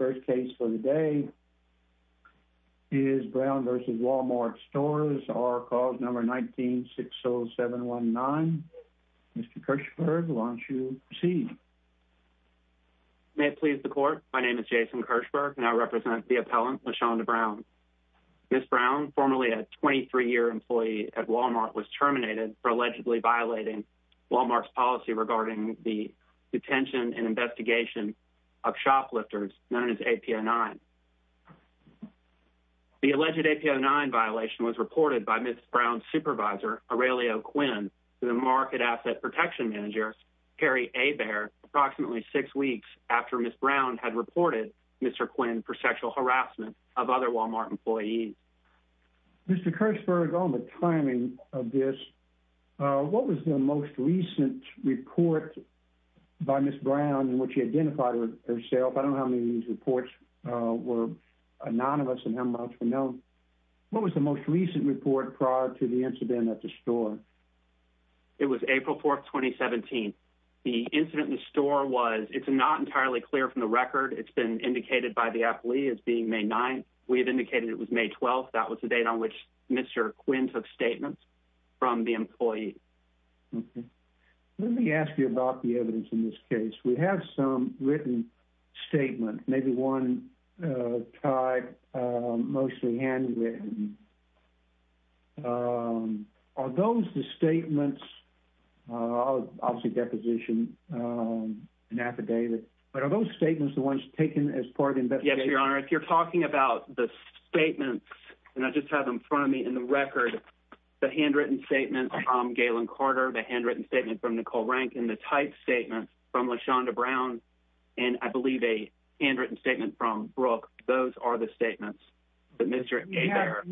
First case for the day is Brown v. Wal-Mart Stores, or cause number 19-60719. Mr. Kirchberg, why don't you proceed? May it please the court, my name is Jason Kirchberg, and I represent the appellant, Lashawnda Brown. Ms. Brown, formerly a 23-year employee at Wal-Mart, was terminated for allegedly violating Wal-Mart's policy regarding the detention and investigation of shoplifters, known as APO9. The alleged APO9 violation was reported by Ms. Brown's supervisor, Aurelio Quinn, to the market asset protection manager, Harry Hebert, approximately six weeks after Ms. Brown had reported Mr. Quinn for sexual harassment of other Wal-Mart employees. Mr. Kirchberg, on the timing of this, what was the most recent report by Ms. Brown in which you identified herself? I don't know how many of these reports were anonymous and how much were known. What was the most recent report prior to the incident at the store? It was April 4th, 2017. The incident in the store was, it's not entirely clear from the record. It's been indicated by the appellee as being May 9th. We have indicated it was May 12th. That was the date on which Mr. Quinn took statements from the employee. Let me ask you about the evidence in this case. We have some written statements, maybe one tied, mostly handwritten. Are those the statements, obviously deposition and affidavit, but are those statements the ones taken as part of the investigation? Yes, Your Honor. If you're talking about the statements, and I just have them in front of me in the record, the handwritten statement from Galen Carter, the handwritten statement from Nicole Rankin, and the typed statement from LaShonda Brown, and I believe a handwritten statement from Brooke. Those are the statements that Mr. Hebert-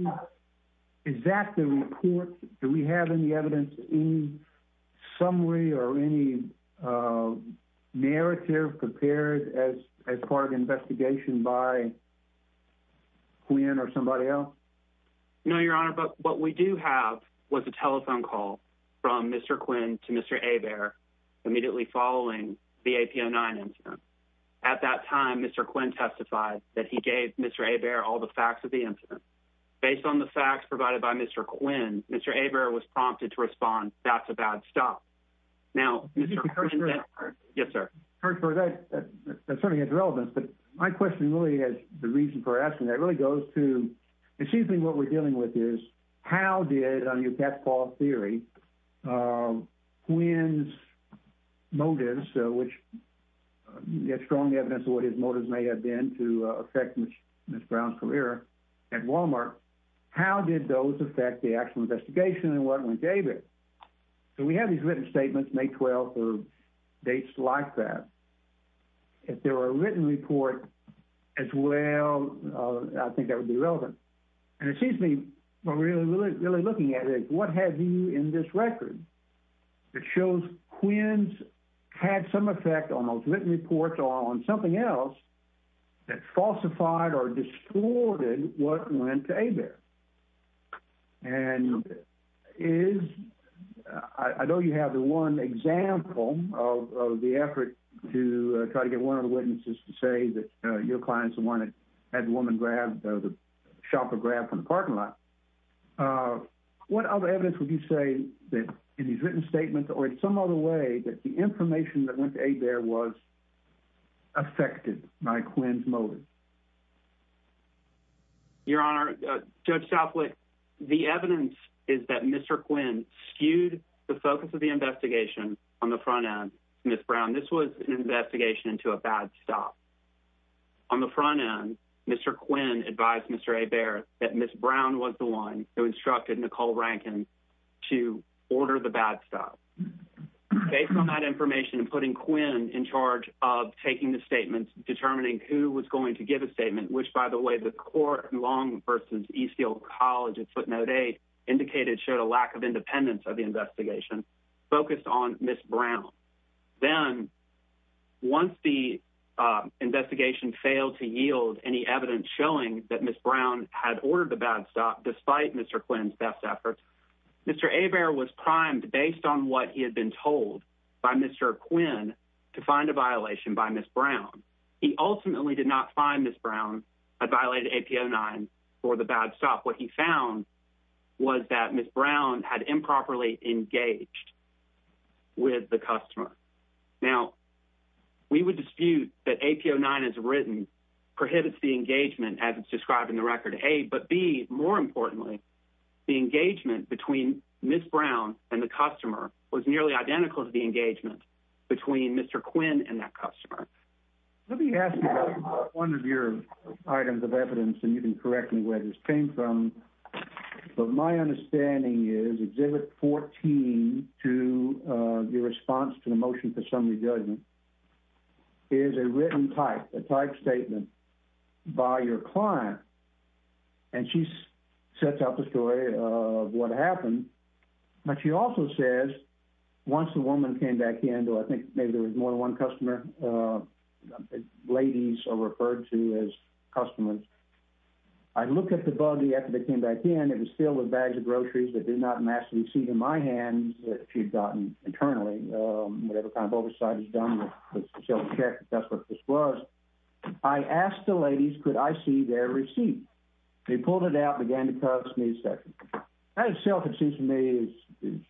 Is that the report? Do we have any evidence, any summary, or any narrative compared as part of the investigation by Quinn or somebody else? No, Your Honor, but what we do have was a telephone call from Mr. Quinn to Mr. Hebert immediately following the AP09 incident. At that time, Mr. Quinn testified that he gave Mr. Hebert all the facts of the incident. Based on the facts provided by Mr. Quinn, Mr. Hebert was prompted to respond, that's a bad stop. Now, Mr. Quinn- Yes, sir. That certainly has relevance, but my question really is, the reason for asking that really goes to, it seems to me what we're dealing with is how did, on your cat's paw theory, Quinn's motives, which there's strong evidence of what his motives may have been to affect Ms. Brown's career at Walmart, how did those affect the actual investigation and what went David? So we have these written statements, May 12th, or dates like that. If there were a written report as well, I think that would be relevant. And it seems to me what we're really looking at is what have you in this record that shows Quinn's had some effect on those written reports or on something else that falsified or distorted what went to Hebert? And is, I know you have the one example of the effort to try to get one of the witnesses to say that your client's the one that had the woman grabbed, shopper grabbed from the parking lot. What other evidence would you say that in these written statements or in some other way that the information that went to Hebert was affected by Quinn's motives? Your Honor, Judge Southwick, the evidence is that Mr. Quinn skewed the focus of the investigation on the front end, Ms. Brown. This was an investigation to a bad stop. On the front end, Mr. Quinn advised Mr. Hebert that Ms. Brown was the one who instructed Nicole Rankin to order the bad stop. Based on that information and putting Quinn in charge of taking the statements, determining who was going to give a statement, which by the way, the court Long versus Eastfield College at footnote eight indicated showed a lack of independence of the investigation focused on Ms. Brown. Then once the investigation failed to yield any evidence showing that Ms. Brown had ordered the bad stop, despite Mr. Quinn's best efforts, Mr. Hebert was primed based on what he had been told by Mr. Quinn to find a violation by Ms. Brown. He ultimately did not find Ms. Brown had violated AP09 for the bad stop. What he found was that Ms. Brown had improperly engaged with the customer. Now, we would dispute that AP09 as written prohibits the engagement as it's described in the record A, but B, more importantly, the engagement between Ms. Brown and the customer was nearly identical to the engagement between Mr. Quinn and that customer. Let me ask you about one of your items of evidence and you can correct me where this came from. But my understanding is exhibit 14 to your response to the motion for summary judgment is a written type, a type statement by your client. And she sets out the story of what happened. But she also says, once the woman came back in, though I think maybe there was more than one customer, ladies are referred to as customers. I looked at the buggy after they came back in, it was filled with bags of groceries that did not match the receipt in my hands that she'd gotten internally. Whatever kind of oversight is done, let's self-check if that's what this was. I asked the ladies, could I see their receipt? They pulled it out and began to cuss me a second. That itself, it seems to me is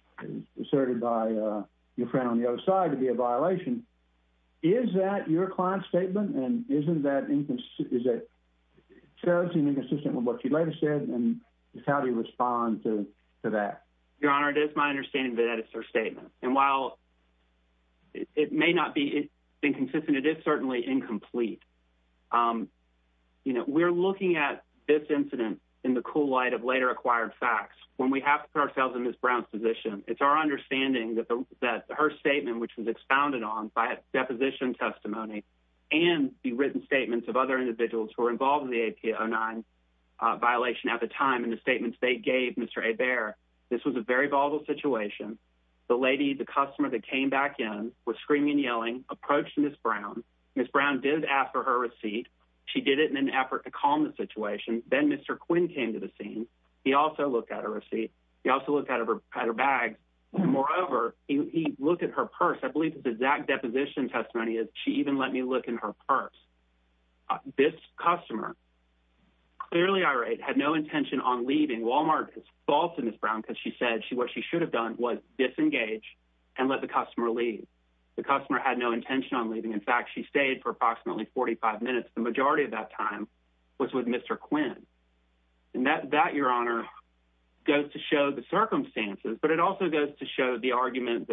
asserted by your friend on the other side to be a violation. Is that your client's statement? And is it that inconsistent, is it challenging and inconsistent with what she later said? And how do you respond to that? Your Honor, it is my understanding that that is her statement. And while it may not be inconsistent, it is certainly incomplete. We're looking at this incident in the cool light of later acquired facts. When we have to put ourselves in Ms. Brown's position, it's our understanding that her statement, which was expounded on by a deposition testimony and the written statements of other individuals who were involved in the AP-09 violation at the time and the statements they gave Mr. Hebert, this was a very volatile situation. The lady, the customer that came back in was screaming and yelling, approached Ms. Brown. Ms. Brown did ask for her receipt. She did it in an effort to calm the situation. Then Mr. Quinn came to the scene. He also looked at her receipt. He also looked at her bag. Moreover, he looked at her purse. I believe this exact deposition testimony is she even let me look in her purse. This customer, clearly irate, had no intention on leaving. Walmart is false to Ms. Brown because she said what she should have done was disengage and let the customer leave. The customer had no intention on leaving. In fact, she stayed for approximately 45 minutes. The majority of that time was with Mr. Quinn. And that, Your Honor, goes to show the circumstances, but it also goes to show the argument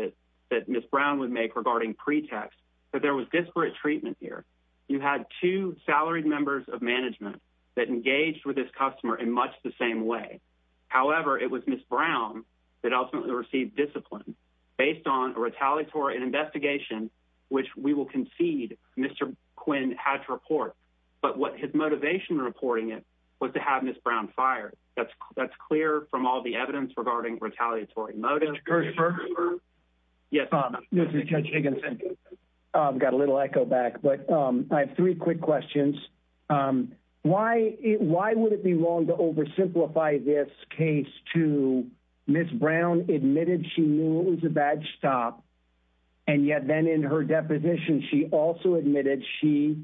that Ms. Brown would make regarding pretext, that there was disparate treatment here. You had two salaried members of management that engaged with this customer in much the same way. However, it was Ms. Brown that ultimately received discipline based on a retaliatory investigation, which we will concede Mr. Quinn had to report. But what his motivation in reporting it was to have Ms. Brown fired. That's clear from all the evidence regarding retaliatory motives. Judge Kirschberg? Yes, Your Honor. This is Judge Higginson. I've got a little echo back, but I have three quick questions. Why would it be wrong to oversimplify this case to Ms. Brown admitted she knew it was a bad stop, and yet then in her deposition, she also admitted she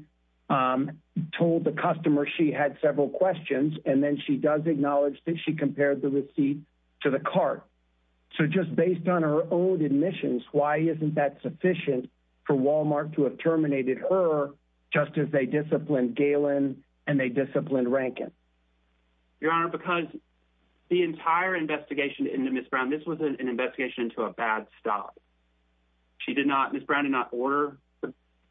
told the customer she had several questions, and then she does acknowledge that she compared the receipt to the cart. So just based on her own admissions, why isn't that sufficient for Walmart to have terminated her just as they disciplined Galen and they disciplined Rankin? Your Honor, because the entire investigation into Ms. Brown, this was an investigation into a bad stop. She did not, Ms. Brown did not order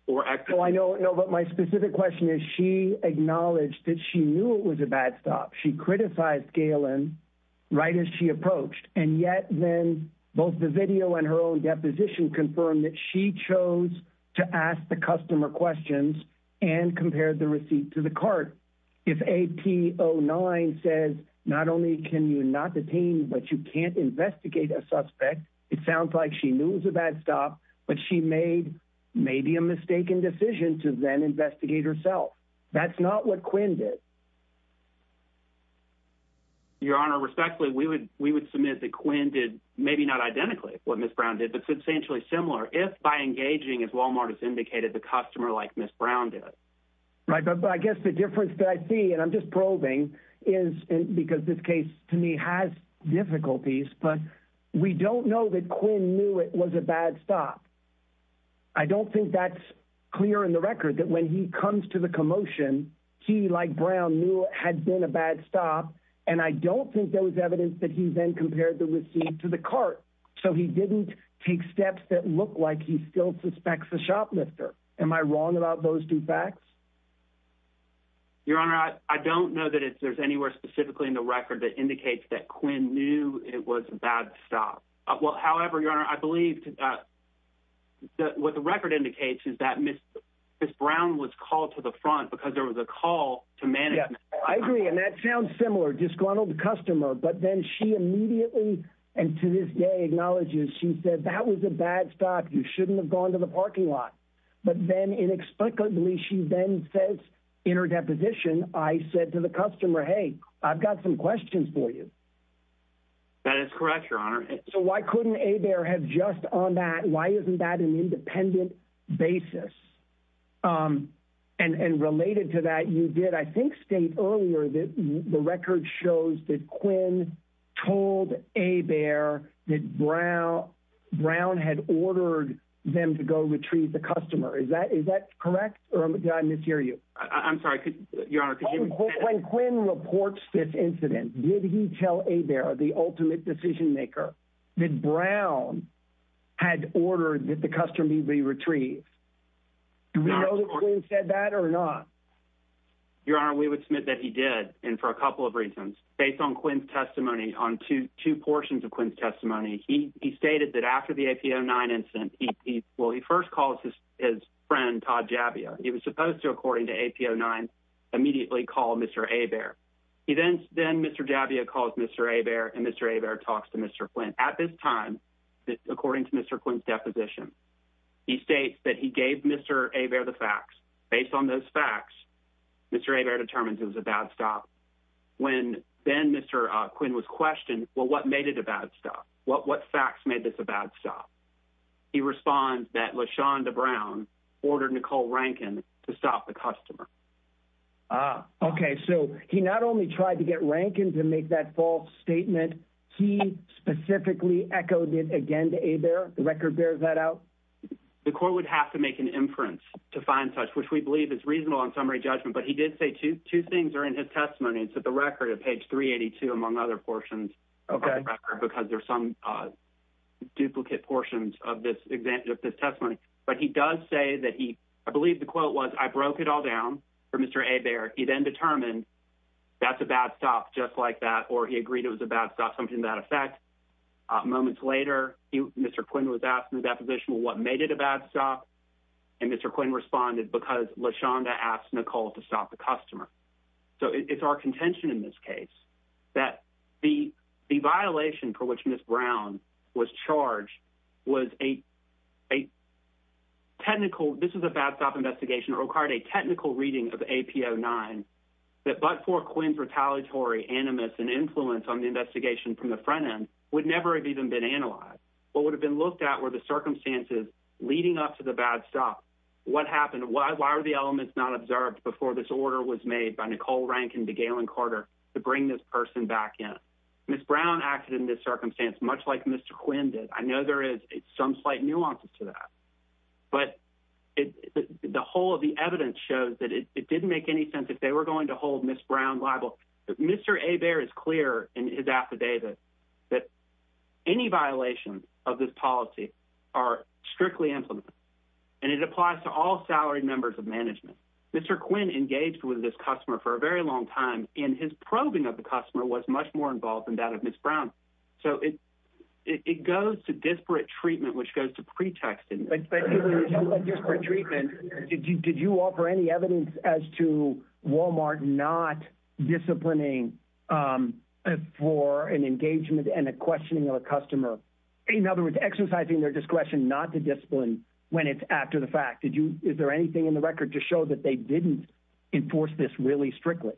or execute. Oh, I know, I know, but my specific question is she acknowledged that she knew it was a bad stop. She criticized Galen right as she approached, and yet then both the video and her own deposition confirmed that she chose to ask the customer questions and compared the receipt to the cart. If AP09 says not only can you not detain, but you can't investigate a suspect, it sounds like she knew it was a bad stop, but she made maybe a mistaken decision to then investigate herself. That's not what Quinn did. Your Honor, respectfully, we would submit that Quinn did, maybe not identically what Ms. Brown did, but substantially similar if by engaging, as Walmart has indicated, the customer like Ms. Brown did. Right, but I guess the difference that I see, and I'm just probing, is because this case to me has difficulties, but we don't know that Quinn knew it was a bad stop. I don't think that's clear in the record that when he comes to the commotion, he, like Brown, knew it had been a bad stop, and I don't think there was evidence that he then compared the receipt to the cart, so he didn't take steps that look like he still suspects the shoplifter. Am I wrong about those two facts? Your Honor, I don't know that there's anywhere specifically in the record that indicates that Quinn knew it was a bad stop. Well, however, Your Honor, I believe what the record indicates is that Ms. Brown was called to the front because there was a call to management. Yeah, I agree, and that sounds similar, disgruntled customer, but then she immediately, and to this day acknowledges, she said, that was a bad stop. You shouldn't have gone to the parking lot. But then inexplicably, she then says in her deposition, I said to the customer, hey, I've got some questions for you. That is correct, Your Honor. So why couldn't Hebert have just on that, why isn't that an independent basis? And related to that, you did, I think, state earlier that the record shows that Quinn told Hebert that Brown had ordered them to go retrieve the customer. Is that correct, or did I mishear you? I'm sorry, Your Honor, could you repeat that? When Quinn reports this incident, did he tell Hebert, the ultimate decision maker, that Brown had ordered that the customer be retrieved? Do we know that Quinn said that or not? Your Honor, we would submit that he did, and for a couple of reasons. Based on Quinn's testimony, on two portions of Quinn's testimony, he stated that after the AP-09 incident, well, he first calls his friend, Todd Javier. He was supposed to, according to AP-09, immediately call Mr. Hebert. He then, then Mr. Javier calls Mr. Hebert, At this time, according to Mr. Quinn's deposition, he states that he gave Mr. Hebert the fax. Based on those fax, Mr. Hebert determines it was a bad stop. When then Mr. Quinn was questioned, well, what made it a bad stop? What fax made this a bad stop? He responds that LaShawn DeBrown ordered Nicole Rankin to stop the customer. Okay, so he not only tried to get Rankin to make that false statement, he specifically echoed it again to Hebert. The record bears that out? The court would have to make an inference to find such, which we believe is reasonable on summary judgment, but he did say two things are in his testimony. It's at the record at page 382, among other portions, because there's some duplicate portions of this testimony. But he does say that he, I believe the quote was, I broke it all down for Mr. Hebert. He then determined that's a bad stop, just like that, or he agreed it was a bad stop, something to that effect. Moments later, Mr. Quinn was asked in the deposition, well, what made it a bad stop? And Mr. Quinn responded, because LaShawn De asked Nicole to stop the customer. So it's our contention in this case, that the violation for which Ms. Brown was charged was a technical, this is a bad stop investigation, it required a technical reading of AP 09, that but for Quinn's retaliatory animus and influence on the investigation from the front end would never have even been analyzed. What would have been looked at were the circumstances leading up to the bad stop. What happened? Why were the elements not observed before this order was made by Nicole Rank and DeGalen Carter to bring this person back in? Ms. Brown acted in this circumstance, much like Mr. Quinn did. I know there is some slight nuances to that, but the whole of the evidence shows that it didn't make any sense if they were going to hold Ms. Brown liable. Mr. Hebert is clear in his affidavit that any violations of this policy are strictly implemented and it applies to all salary members of management. Mr. Quinn engaged with this customer for a very long time and his probing of the customer was much more involved than that of Ms. Brown. So it goes to disparate treatment, which goes to pretext in this. But when you talk about disparate treatment, did you offer any evidence as to Walmart not disciplining for an engagement and a questioning of a customer? In other words, exercising their discretion not to discipline when it's after the fact. Is there anything in the record to show that they didn't enforce this really strictly?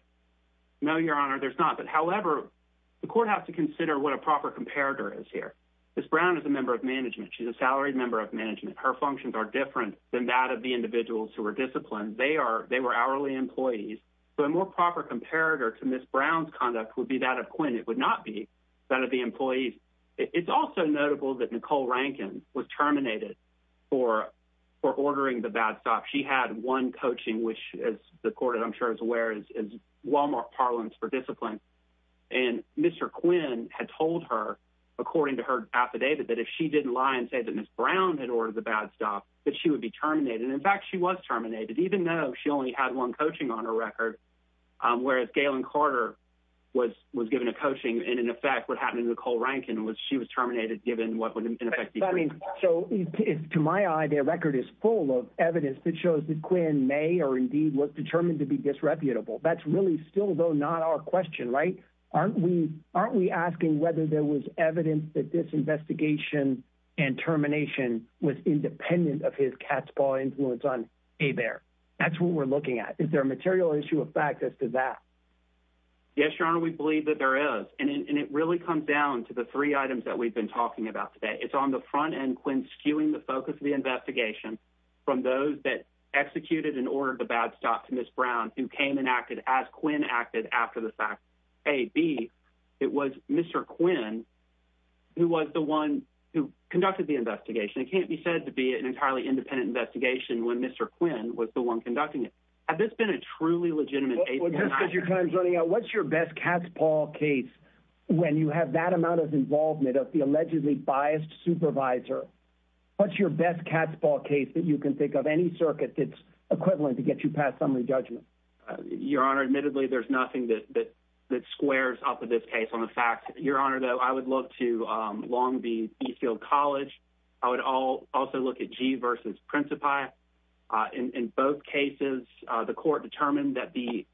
No, Your Honor, there's not. But however, the court has to consider what a proper comparator is here. Ms. Brown is a member of management. She's a salaried member of management. Her functions are different than that of the individuals who were disciplined. They were hourly employees. So a more proper comparator to Ms. Brown's conduct would be that of Quinn. It would not be that of the employees. It's also notable that Nicole Rankin was terminated for ordering the bad stuff. She had one coaching, which as the court, I'm sure is aware, is Walmart parlance for discipline. And Mr. Quinn had told her, according to her affidavit, that if she didn't lie and say that Ms. Brown had ordered the bad stuff, that she would be terminated. And in fact, she was terminated, even though she only had one coaching on her record, whereas Galen Carter was given a coaching. And in effect, what happened to Nicole Rankin was she was terminated, given what would in effect be- So to my eye, the record is full of evidence that shows that Quinn may or indeed was determined to be disreputable. That's really still, though, not our question, right? Aren't we asking whether there was evidence that this investigation and termination was independent of his cat's paw influence on A. Bear? That's what we're looking at. Is there a material issue of fact as to that? Yes, Your Honor, we believe that there is. And it really comes down to the three items that we've been talking about today. It's on the front end, Quinn skewing the focus of the investigation from those that executed and ordered the bad stuff to Ms. Brown, who came and acted as Quinn acted after the fact, A. B, it was Mr. Quinn who was the one who conducted the investigation. It can't be said to be an entirely independent investigation when Mr. Quinn was the one conducting it. Had this been a truly legitimate- Well, just because your time's running out, what's your best cat's paw case when you have that amount of involvement of the allegedly biased supervisor? What's your best cat's paw case that you can think of, any circuit that's equivalent to get you past summary judgment? Your Honor, admittedly, there's nothing that squares off of this case on the fact. Your Honor, though, I would love to long be at Eastfield College. I would also look at Gee versus Principi. In both cases, the court determined that the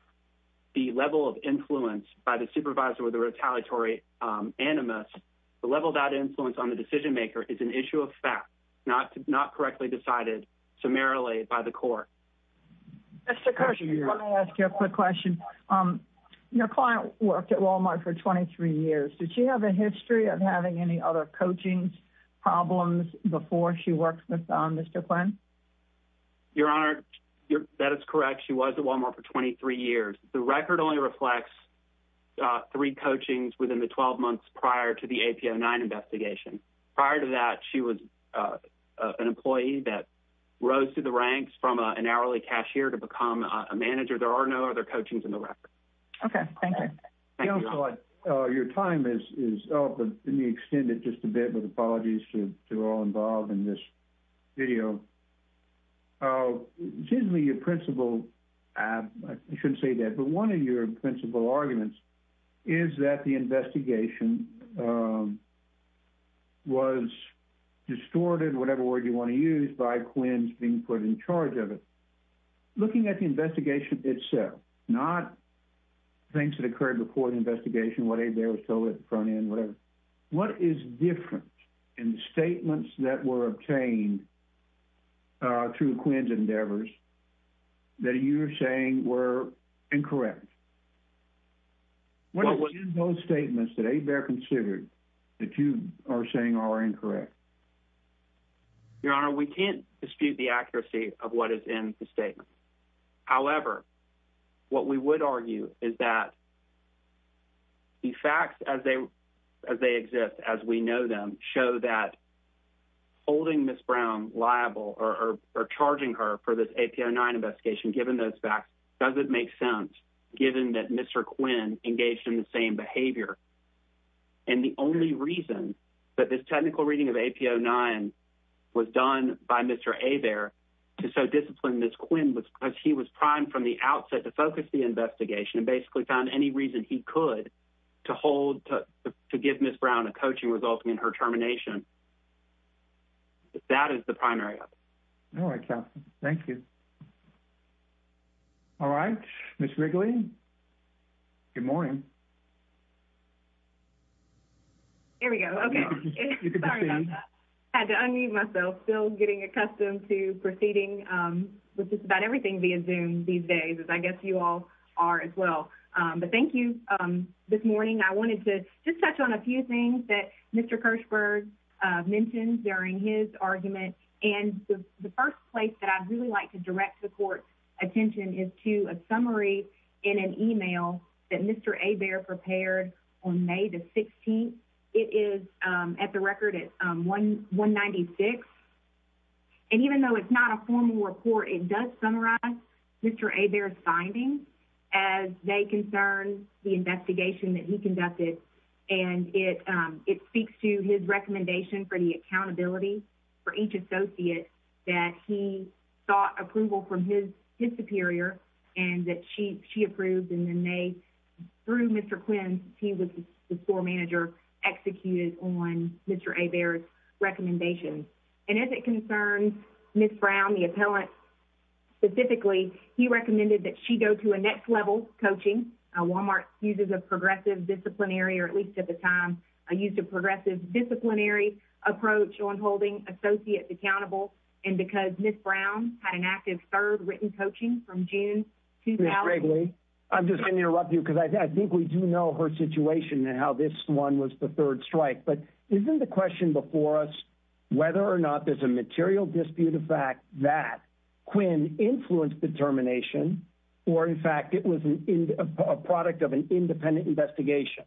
level of influence by the supervisor or the retaliatory animus, the level of that influence on the decision-maker is an issue of fact, not correctly decided summarily by the court. Mr. Kirshenberg, let me ask you a quick question. Your client worked at Walmart for 23 years. Did she have a history of having any other coaching problems before she worked with Mr. Quinn? Your Honor, that is correct. She was at Walmart for 23 years. The record only reflects three coachings within the 12 months prior to the AP09 investigation. Prior to that, she was an employee that rose through the ranks from an hourly cashier to become a manager. There are no other coachings in the record. Okay, thank you. Counselor, your time is up, but let me extend it just a bit with apologies to all involved in this video. It seems to me your principal, I shouldn't say that, but one of your principal arguments is that the investigation was distorted, whatever word you wanna use, by Quinn's being put in charge of it. Looking at the investigation itself, not things that occurred before the investigation, what Abe Bear was told at the front end, whatever, what is different in the statements that were obtained through Quinn's endeavors that you're saying were incorrect? What is in those statements that Abe Bear considered that you are saying are incorrect? of what is in the statement. However, what we would argue is that the facts as they exist, as we know them, show that holding Ms. Brown liable or charging her for this AP09 investigation, given those facts, doesn't make sense given that Mr. Quinn engaged in the same behavior. And the only reason that this technical reading of AP09 was done by Mr. Abe Bear to so discipline Ms. Quinn was because he was primed from the outset to focus the investigation and basically found any reason he could to hold, to give Ms. Brown a coaching result in her termination. That is the primary. All right, Captain. Thank you. All right, Ms. Wrigley, good morning. Here we go. Okay. Sorry about that. Had to unmute myself. Still getting accustomed to proceeding with just about everything via Zoom these days, as I guess you all are as well. But thank you. This morning, I wanted to just touch on a few things that Mr. Kirschberg mentioned during his argument. And the first place that I'd really like to direct the court's attention is to a summary in an email that Mr. Abe Bear prepared on May the 16th. It is at the record at 196. And even though it's not a formal report, it does summarize Mr. Abe Bear's findings as they concern the investigation that he conducted. And it speaks to his recommendation for the accountability for each associate that he sought approval from his superior and that she approved. And then they, through Mr. Quinn, he was the floor manager, executed on Mr. Abe Bear's recommendations. And as it concerns Ms. Brown, the appellant specifically, he recommended that she go to a next level coaching. Walmart uses a progressive disciplinary, or at least at the time, a use of progressive disciplinary approach on holding associates accountable. And because Ms. Brown had an active third written coaching from June 2000- Ms. Wrigley, I'm just gonna interrupt you because I think we do know her situation and how this one was the third strike, but isn't the question before us, whether or not there's a material dispute of fact that Quinn influenced the termination, or in fact, it was a product of an independent investigation.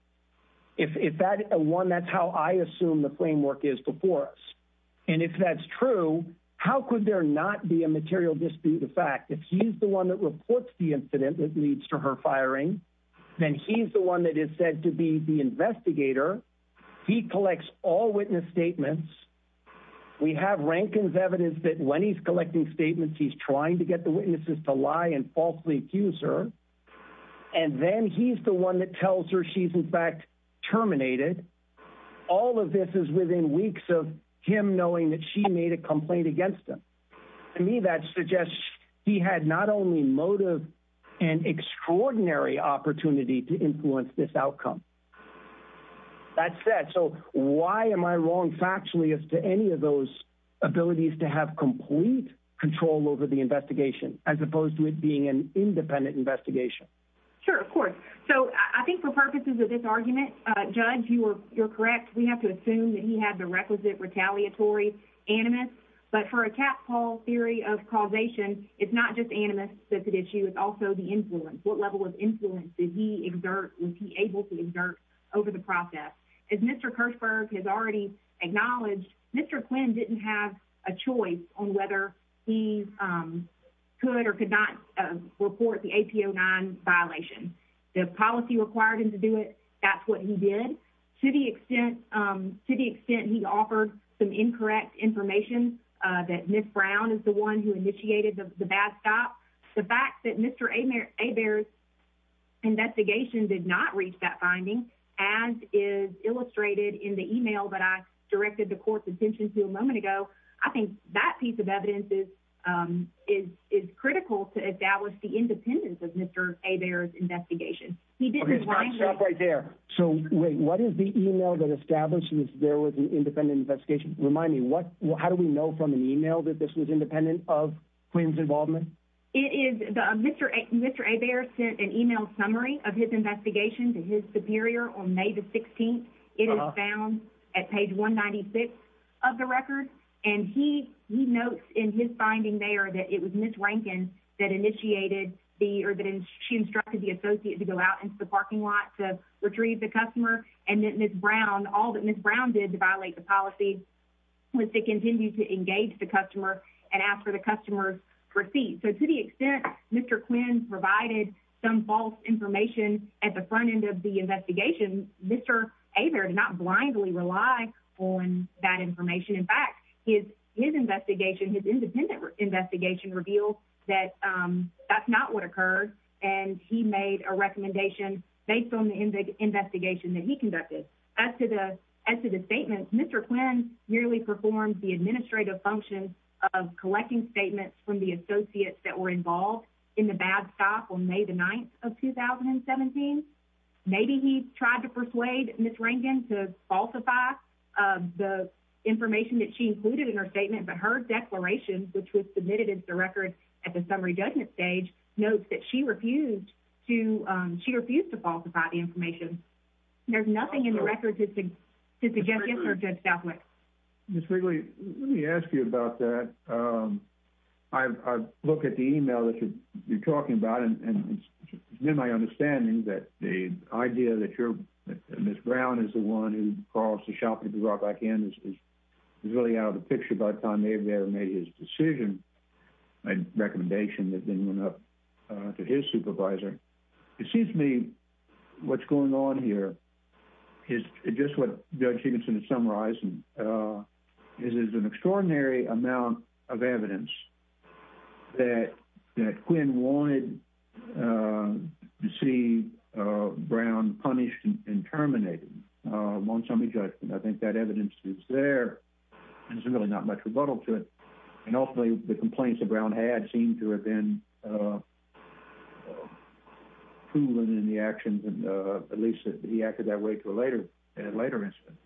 If that one, that's how I assume the framework is before us. And if that's true, how could there not be a material dispute of fact if he's the one that reports the incident that leads to her firing, then he's the one that is said to be the investigator. He collects all witness statements. We have Rankin's evidence that when he's collecting statements, he's trying to get the witnesses to lie and falsely accuse her. And then he's the one that tells her she's in fact terminated. All of this is within weeks of him knowing that she made a complaint against him. To me, that suggests he had not only motive and extraordinary opportunity to influence this outcome. That said, so why am I wrong factually as to any of those abilities to have complete control over the investigation as opposed to it being an independent investigation? Sure, of course. So I think for purposes of this argument, Judge, you're correct. We have to assume that he had the requisite retaliatory animus, but for a cat-call theory of causation, it's not just animus that's at issue. It's also the influence. What level of influence did he exert, was he able to exert over the process? As Mr. Kirschberg has already acknowledged, Mr. Quinn didn't have a choice on whether he could or could not report the AP-09 violation. The policy required him to do it. That's what he did. To the extent he offered some incorrect information, that Ms. Brown is the one who initiated the bad stop, the fact that Mr. Hebert's investigation did not reach that finding, as is illustrated in the email that I directed the court's attention to a moment ago, I think that piece of evidence is critical to establish the independence of Mr. Hebert's investigation. He didn't- Okay, stop right there. So wait, what is the email that establishes there was an independent investigation? Remind me, how do we know from an email that this was independent of Quinn's involvement? It is, Mr. Hebert sent an email summary of his investigation to his superior on May the 16th. It is found at page 196 of the record. And he notes in his finding there that it was Ms. Rankin that initiated the, or that she instructed the associate to go out into the parking lot to retrieve the customer. And that Ms. Brown, all that Ms. Brown did to violate the policy was to continue to engage the customer and ask for the customer's receipt. So to the extent Mr. Quinn provided some false information at the front end of the investigation, Mr. Hebert did not blindly rely on that information. In fact, his investigation, his independent investigation revealed that that's not what occurred. And he made a recommendation based on the investigation that he conducted. As to the statement, Mr. Quinn merely performed the administrative function of collecting statements from the associates that were involved in the bad stuff on May the 9th of 2017. Maybe he tried to persuade Ms. Rankin to falsify the information that she included in her statement, but her declaration, which was submitted as the record at the summary judgment stage, notes that she refused to falsify the information. There's nothing in the record to suggest this or to stop with. Ms. Wrigley, let me ask you about that. I look at the email that you're talking about and it's been my understanding that the idea that Ms. Brown is the one who caused the shopping to be brought back in is really out of the picture by the time they've made his decision and recommendation that then went up to his supervisor. It seems to me what's going on here is just what Judge Higginson is summarizing, is there's an extraordinary amount of evidence that Quinn wanted to see Brown punished and terminated on summary judgment. I think that evidence is there and there's really not much rebuttal to it. And ultimately the complaints that Brown had seem to have been proven in the actions and at least he acted that way to a later instance.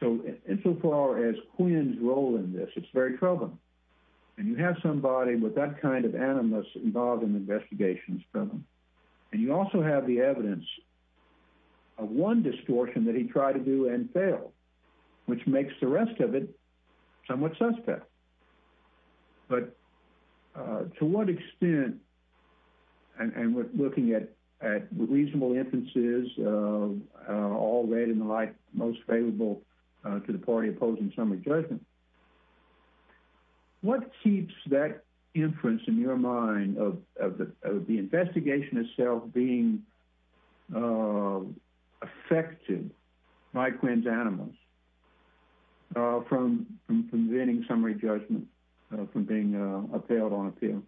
So, and so far as Quinn's role in this, it's very troubling. And you have somebody with that kind of animus involved in the investigations problem. And you also have the evidence of one distortion that he tried to do and failed, which makes the rest of it somewhat suspect. But to what extent, and we're looking at reasonable inferences of all read in the light, most favorable to the party opposing summary judgment, what keeps that inference in your mind of the investigation itself being effective by Quinn's animus from preventing summary judgment from being upheld on appeal?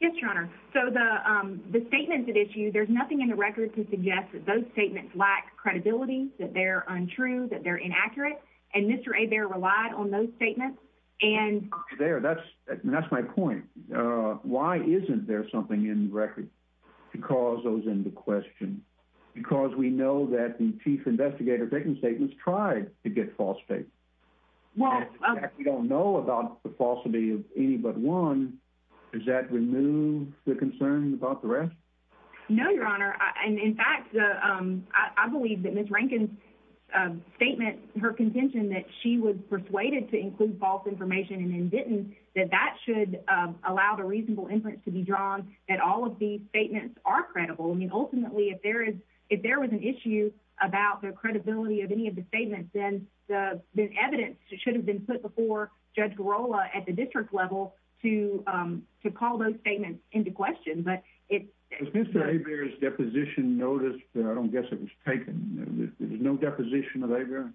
Yes, your honor. So the statements at issue, there's nothing in the record to suggest that those statements lack credibility, that they're untrue, that they're inaccurate. And Mr. Hebert relied on those statements and- There, that's my point. Why isn't there something in record to cause those into question? Because we know that the chief investigator who's making statements tried to get false statements. Well- We don't know about the falsity of any but one. Does that remove the concern about the rest? No, your honor. And in fact, I believe that Ms. Rankin's statement, her contention that she was persuaded to include false information and then didn't, that that should allow the reasonable inference to be drawn, that all of these statements are credible. I mean, ultimately, if there was an issue about the credibility of any of the statements, then the evidence should have been put before Judge Girola at the district level to call those statements into question. But it's- Does Mr. Hebert's deposition notice, I don't guess it was taken. There was no deposition of Hebert?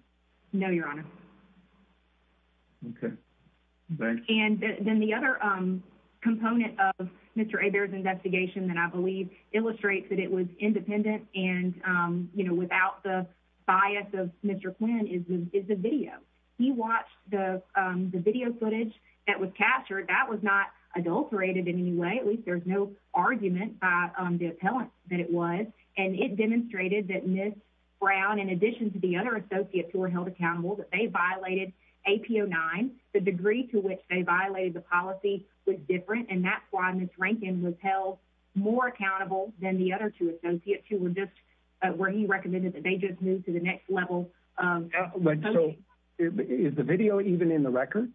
No, your honor. Okay. Thanks. And then the other component of Mr. Hebert's investigation that I believe illustrates that it was independent and without the bias of Mr. Quinn is the video. He watched the video footage that was captured. That was not adulterated in any way. At least there's no argument by the appellant that it was. And it demonstrated that Ms. Brown, in addition to the other associates who were held accountable, that they violated AP09. The degree to which they violated the policy was different. And that's why Ms. Rankin was held more accountable than the other two associates who were just, where he recommended that they just move to the next level of the policy. So is the video even in the record?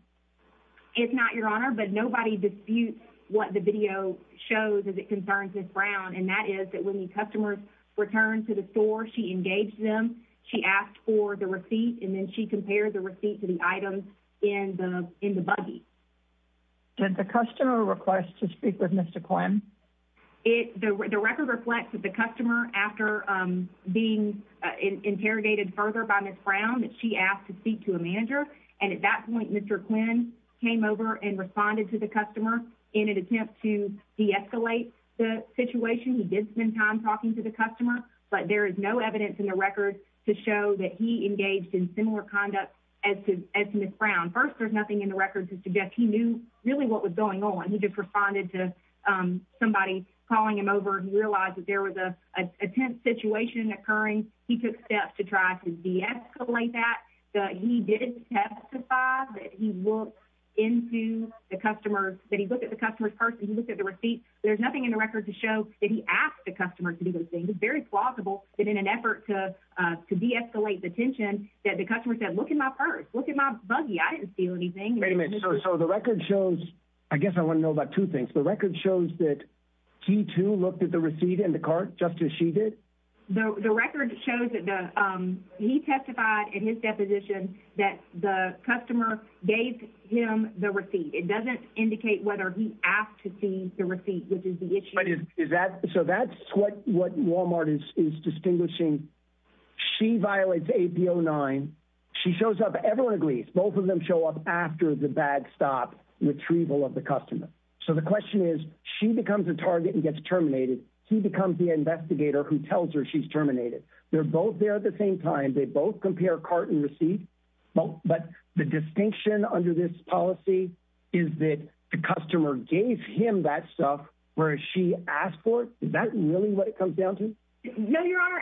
It's not, your honor, but nobody disputes what the video shows as it concerns Ms. Brown. And that is that when the customers returned to the store, she engaged them, she asked for the receipt, and then she compared the receipt to the items in the buggy. Did the customer request to speak with Mr. Quinn? The record reflects that the customer, after being interrogated further by Ms. Brown, that she asked to speak to a manager. And at that point, Mr. Quinn came over and responded to the customer in an attempt to deescalate the situation. He did spend time talking to the customer, but there is no evidence in the record to show that he engaged in similar conduct as Ms. Brown. First, there's nothing in the record to suggest he knew really what was going on. He just responded to somebody calling him over. He realized that there was a tense situation occurring. He took steps to try to deescalate that. He did testify that he looked into the customer, that he looked at the customer's purse, and he looked at the receipt. There's nothing in the record to show that he asked the customer to do those things. It's very plausible that in an effort to deescalate the tension, that the customer said, look at my purse, look at my buggy. I didn't steal anything. Wait a minute, so the record shows, I guess I wanna know about two things. The record shows that he too looked at the receipt and the cart just as she did? The record shows that he testified in his deposition that the customer gave him the receipt. It doesn't indicate whether he asked to see the receipt, which is the issue. So that's what Walmart is distinguishing. She violates AP 09. She shows up, everyone agrees, both of them show up after the bag stop retrieval of the customer. So the question is, she becomes a target and gets terminated. He becomes the investigator who tells her she's terminated. They're both there at the same time. They both compare cart and receipt, but the distinction under this policy is that the customer gave him that stuff whereas she asked for it. Is that really what it comes down to? No, Your Honor.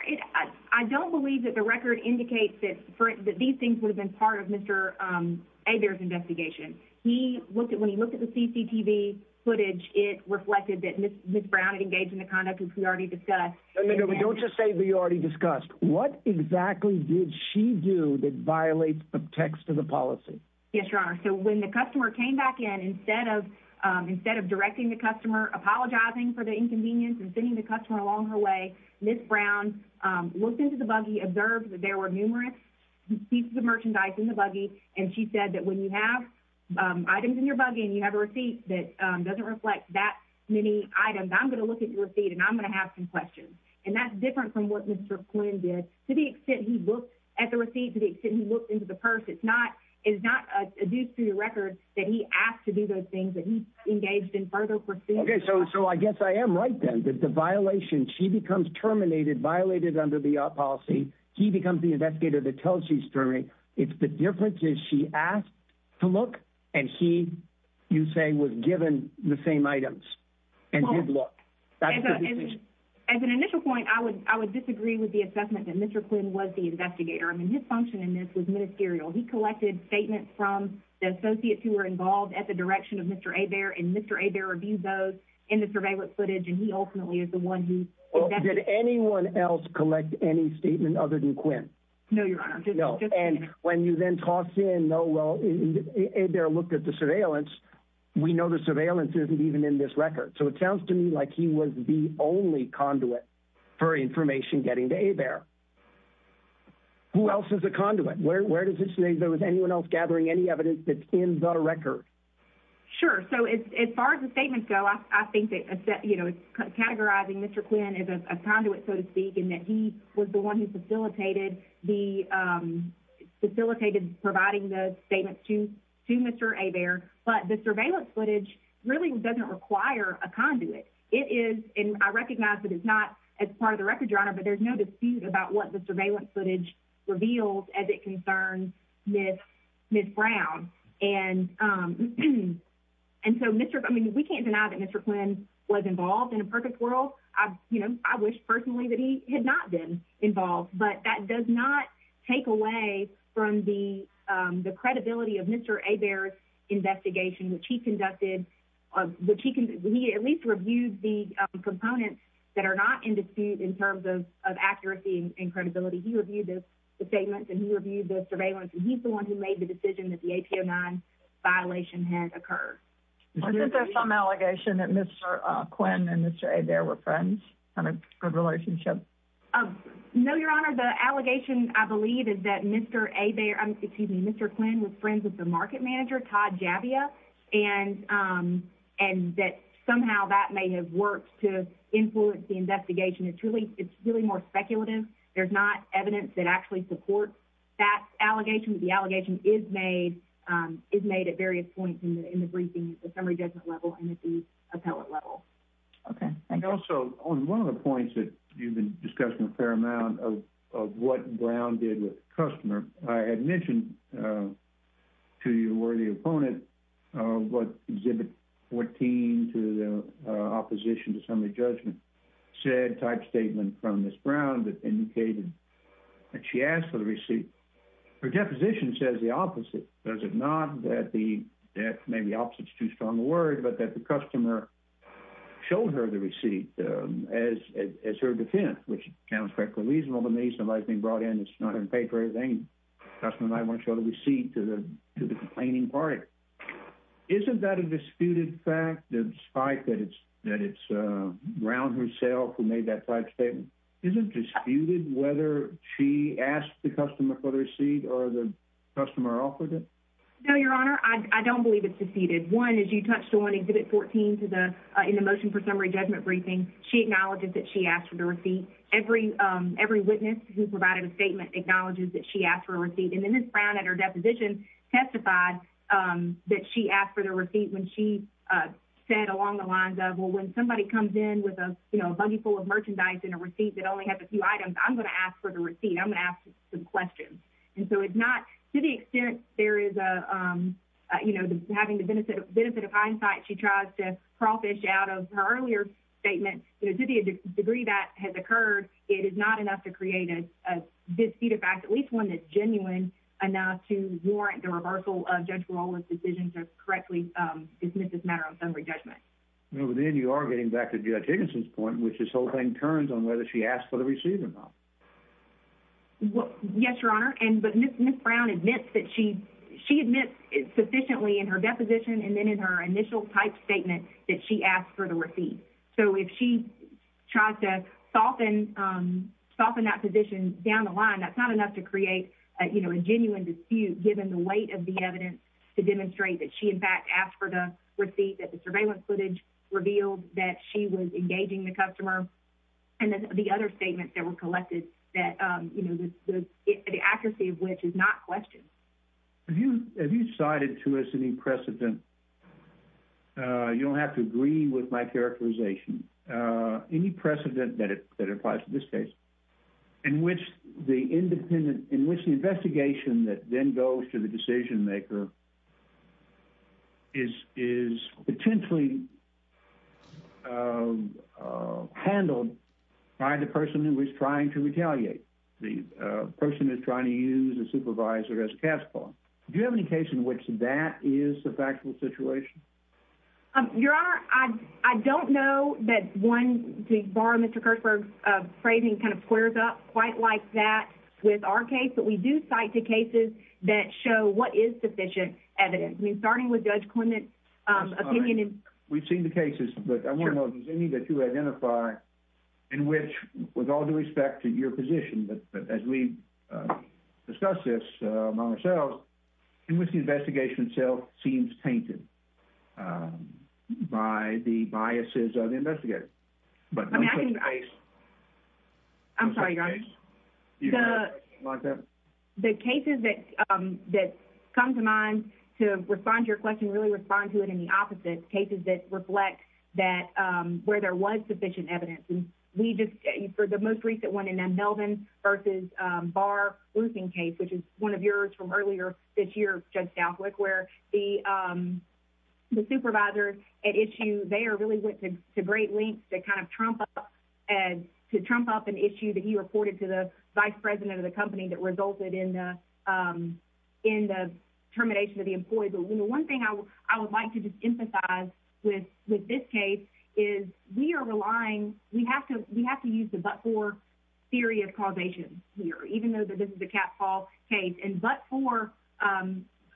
I don't believe that the record indicates that these things would have been part of Mr. Hebert's investigation. He looked at, when he looked at the CCTV footage, it reflected that Ms. Brown had engaged in the conduct as we already discussed. No, no, no. Don't just say we already discussed. What exactly did she do that violates the text of the policy? Yes, Your Honor. So when the customer came back in, instead of directing the customer, apologizing for the inconvenience and sending the customer along her way, Ms. Brown looked into the buggy, she observed that there were numerous pieces of merchandise in the buggy, and she said that when you have items in your buggy and you have a receipt that doesn't reflect that many items, I'm gonna look at your receipt and I'm gonna have some questions. And that's different from what Mr. Quinn did. To the extent he looked at the receipt, to the extent he looked into the purse, it's not, it's not adduced to the record that he asked to do those things that he engaged in further proceedings. Okay, so I guess I am right then, that the violation, she becomes terminated, violated under the policy, he becomes the investigator that tells his jury, it's the difference is she asked to look and he, you say, was given the same items and did look. That's the difference. As an initial point, I would disagree with the assessment that Mr. Quinn was the investigator. I mean, his function in this was ministerial. He collected statements from the associates who were involved at the direction of Mr. Hebert, and Mr. Hebert reviewed those in the surveillance footage, and he ultimately is the one who investigated. Well, did anyone else collect any statement other than Quinn? No, Your Honor. No. And when you then toss in, no, well, Hebert looked at the surveillance, we know the surveillance isn't even in this record. So it sounds to me like he was the only conduit for information getting to Hebert. Who else is a conduit? Where does it say there was anyone else gathering any evidence that's in the record? Sure, so as far as the statements go, I think that categorizing Mr. Quinn as a conduit, so to speak, and that he was the one who facilitated providing those statements to Mr. Hebert, but the surveillance footage really doesn't require a conduit. It is, and I recognize that it's not as part of the record, Your Honor, but there's no dispute about what the surveillance footage reveals as it concerns Ms. Brown. And so Mr., I mean, we can't deny that Mr. Quinn was involved in a purpose quarrel. I wish personally that he had not been involved, but that does not take away from the credibility of Mr. Hebert's investigation, which he conducted, which he at least reviewed the components that are not in dispute in terms of accuracy and credibility. He reviewed the statements and he reviewed the surveillance, and he's the one who made the decision that the AP-09 violation had occurred. Is there some allegation that Mr. Quinn and Mr. Hebert were friends, had a good relationship? No, Your Honor, the allegation, I believe, is that Mr. Hebert, excuse me, Mr. Quinn was friends with the market manager, Todd Javia, and that somehow that may have worked to influence the investigation. It's really more speculative. There's not evidence that actually supports that allegation. The allegation is made at various points in the briefing at the summary judgment level and at the appellate level. Okay, thank you. And also, on one of the points that you've been discussing a fair amount of what Brown did with the customer, I had mentioned to you where the opponent of what Exhibit 14 to the opposition to summary judgment said type statement from Ms. Brown that indicated that she asked for the receipt. Her deposition says the opposite. Does it not that the, that maybe opposite's too strong a word, but that the customer showed her the receipt as her defendant, which sounds quite reasonable to me, somebody being brought in that's not even paid for anything. The customer might wanna show the receipt to the complaining party. Isn't that a disputed fact that despite that it's Brown herself who made that type statement? Is it disputed whether she asked the customer for the receipt or the customer offered it? No, Your Honor, I don't believe it's disputed. One, as you touched on, Exhibit 14 to the, in the motion for summary judgment briefing, she acknowledges that she asked for the receipt. Every witness who provided a statement acknowledges that she asked for a receipt. And then Ms. Brown at her deposition testified that she asked for the receipt when she said along the lines of, well, when somebody comes in with a, you know, a buggy full of merchandise and a receipt that only has a few items, I'm gonna ask for the receipt. I'm gonna ask some questions. And so it's not, to the extent there is a, you know, having the benefit of hindsight, she tries to crawfish out of her earlier statement. You know, to the degree that has occurred, it is not enough to create a disputed fact, at least one that's genuine enough to warrant the reversal of Judge Barola's decision to correctly dismiss this matter on summary judgment. And then you are getting back to Judge Higginson's point, which is this whole thing turns on whether she asked for the receipt or not. Well, yes, Your Honor. And, but Ms. Brown admits that she, she admits sufficiently in her deposition and then in her initial type statement that she asked for the receipt. So if she tries to soften, soften that position down the line, that's not enough to create a, you know, a genuine dispute given the weight of the evidence to demonstrate that she in fact asked for the receipt, that the surveillance footage revealed that she was engaging the customer and the other statements that were collected that, you know, the accuracy of which is not questioned. Have you, have you cited to us any precedent, you don't have to agree with my characterization, any precedent that applies to this case in which the independent, in which the investigation that then goes to the decision maker is, is potentially handled by the person who was trying to retaliate, the person that's trying to use a supervisor as cash pawn. Do you have any case in which that is a factual situation? Your Honor, I don't know that one, to borrow Mr. Kirchberg's phrasing, kind of squares up quite like that with our case, but we do cite the cases that show what is sufficient evidence. I mean, starting with Judge Clement's opinion in- We've seen the cases, but I want to know if there's any that you identify in which, with all due respect to your position, but as we discuss this among ourselves, in which the investigation itself seems tainted by the biases of the investigators. But- I'm sorry, Your Honor. Do you have a question like that? The cases that come to mind to respond to your question, really respond to it in the opposite. Cases that reflect that, where there was sufficient evidence. And we just, for the most recent one in them, Melvin versus Barr looting case, which is one of yours from earlier this year, Judge Southwick, where the supervisor at issue, they really went to great lengths to kind of trump up an issue that he reported to the vice president of the company that resulted in the termination of the employee. But one thing I would like to just emphasize with this case is we are relying, we have to use the but-for theory of causation here, even though that this is a catfall case. And but-for,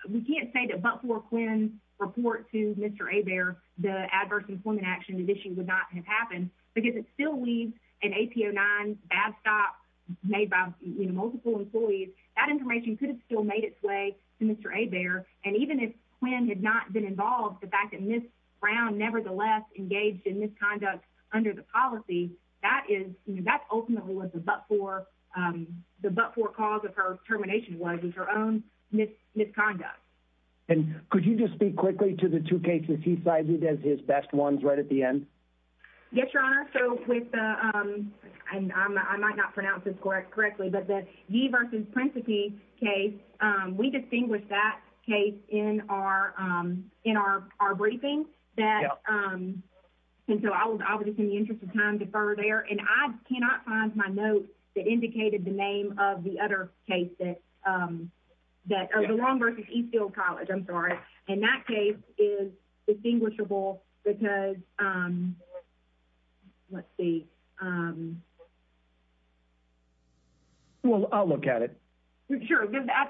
we can't say that but-for Quinn report to Mr. Hebert, the adverse employment action issue would not have happened because it still leaves an AP09 bad stop made by multiple employees. That information could have still made its way to Mr. Hebert. And even if Quinn had not been involved, the fact that Ms. Brown nevertheless engaged in misconduct under the policy, that ultimately was the but-for, the but-for cause of her termination was her own misconduct. And could you just speak quickly to the two cases he cited as his best ones right at the end? Yes, Your Honor. So with the, and I might not pronounce this correctly, but the Yee versus Principe case, we distinguished that case in our briefing that, and so I was obviously in the interest of time to further there. And I cannot find my note that indicated the name of the other case that, that the Long versus Eastfield College, I'm sorry. And that case is distinguishable because, let's see. Well, I'll look at it. Sure.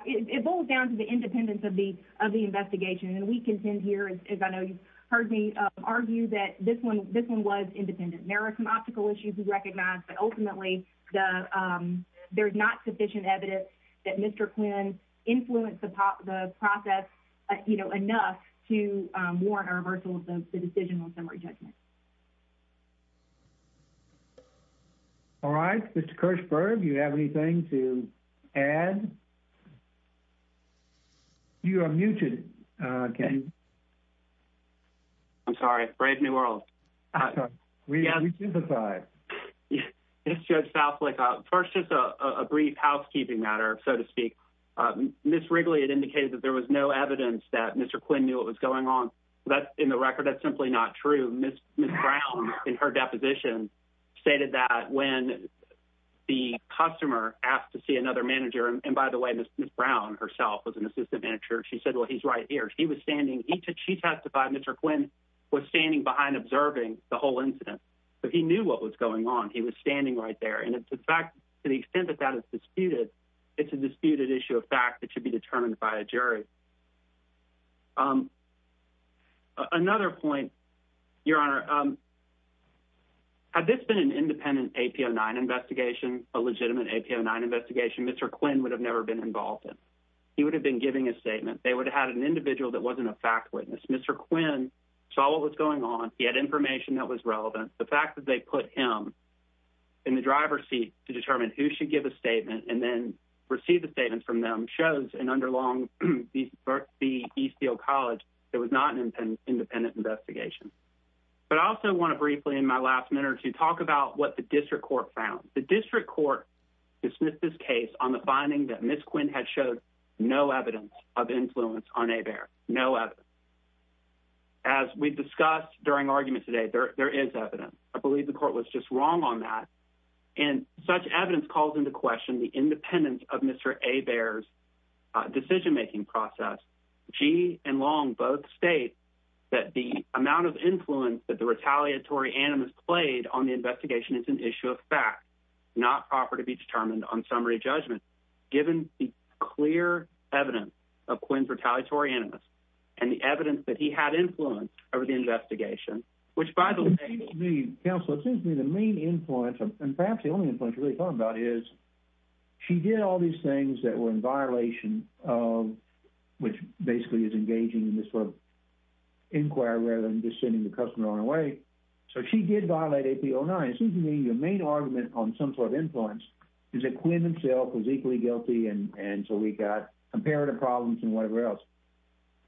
It boils down to the independence of the investigation. And we contend here, as I know you've heard me argue that this one was independent. There are some optical issues we recognize, but ultimately there's not sufficient evidence that Mr. Quinn influenced the process enough to warrant our reversal of the decision on summary judgment. All right. Mr. Kirchberg, you have anything to add? You are muted. I'm sorry. Brave New World. We sympathize. Yes, Judge Southlake. First, just a brief housekeeping matter, so to speak. Ms. Wrigley had indicated that there was no evidence that Mr. Quinn knew what was going on. But in the record, that's simply not true. Ms. Brown, in her deposition, stated that when the customer asked to see another manager, and by the way, Ms. Brown herself was an assistant manager. She said, well, he's right here. He was standing, she testified Mr. Quinn was standing behind observing the whole incident. So he knew what was going on. He was standing right there. And to the extent that that is disputed, it's a disputed issue of fact that should be determined by a jury. Another point, Your Honor, had this been an independent APO 9 investigation, a legitimate APO 9 investigation, Mr. Quinn would have never been involved in. He would have been giving a statement. They would have had an individual that wasn't a fact witness. Mr. Quinn saw what was going on. He had information that was relevant. The fact that they put him in the driver's seat to determine who should give a statement and then receive the statement from them shows and underlong the Eastfield College it was not an independent investigation. But I also wanna briefly in my last minute to talk about what the district court found. The district court dismissed this case on the finding that Ms. Quinn had showed no evidence of influence on ABEARS, no evidence. As we discussed during argument today, there is evidence. I believe the court was just wrong on that. And such evidence calls into question the independence of Mr. ABEARS' decision-making process. She and Long both state that the amount of influence that the retaliatory animus played on the investigation is an issue of fact, not proper to be determined on summary judgment, given the clear evidence of Quinn's retaliatory animus and the evidence that he had influence over the investigation, which by the way- Counselor, it seems to me the main influence and perhaps the only influence you're really talking about is she did all these things that were in violation of which basically is engaging in this sort of inquiry rather than just sending the customer on away. So she did violate AP-09. It seems to me the main argument on some sort of influence is that Quinn himself was equally guilty and so we got comparative problems and whatever else.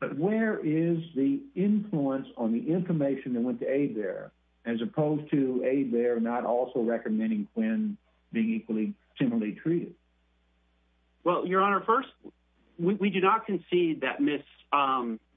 But where is the influence on the information that went to ABEARS as opposed to ABEARS not also recommending Quinn being equally similarly treated? Well, Your Honor, first, we do not concede that Ms.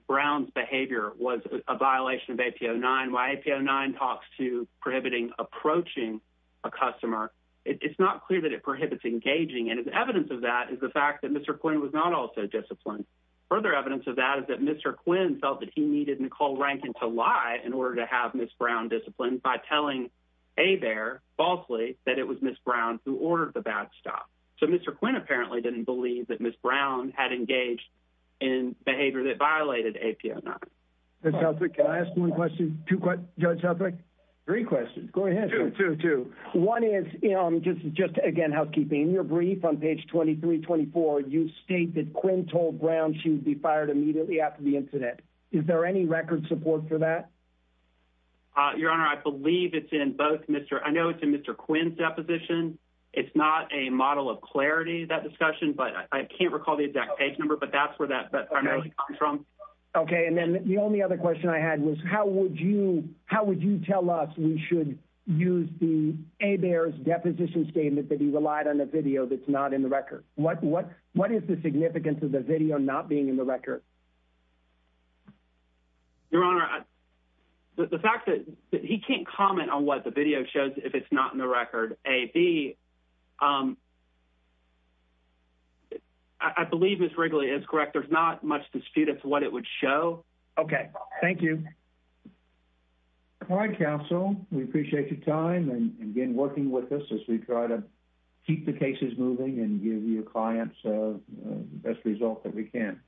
Brown's behavior was a violation of AP-09. Why AP-09 talks to prohibiting approaching a customer, it's not clear that it prohibits engaging and the evidence of that is the fact that Mr. Quinn was not also disciplined. Further evidence of that is that Mr. Quinn felt that he needed Nicole Rankin to lie in order to have Ms. Brown disciplined by telling ABEARS falsely that it was Ms. Brown who ordered the bad stuff. So Mr. Quinn apparently didn't believe that Ms. Brown had engaged in behavior that violated AP-09. Judge Southwick, can I ask one question? Two questions, Judge Southwick? Three questions, go ahead. Two, two, two. One is, just again housekeeping, in your brief on page 23-24, you state that Quinn told Brown she would be fired immediately after the incident. Is there any record support for that? Your Honor, I believe it's in both Mr., I know it's in Mr. Quinn's deposition. It's not a model of clarity, that discussion, but I can't recall the exact page number, but that's where that primarily comes from. Okay, and then the only other question I had was, how would you tell us we should use the ABEARS deposition statement that he relied on a video that's not in the record? What is the significance of the video not being in the record? Your Honor, the fact that he can't comment on what the video shows if it's not in the record, A, B, I believe Ms. Wrigley is correct. There's not much dispute as to what it would show. Okay, thank you. All right, counsel, we appreciate your time and again, working with us as we try to keep the cases moving and give your clients the best result that we can.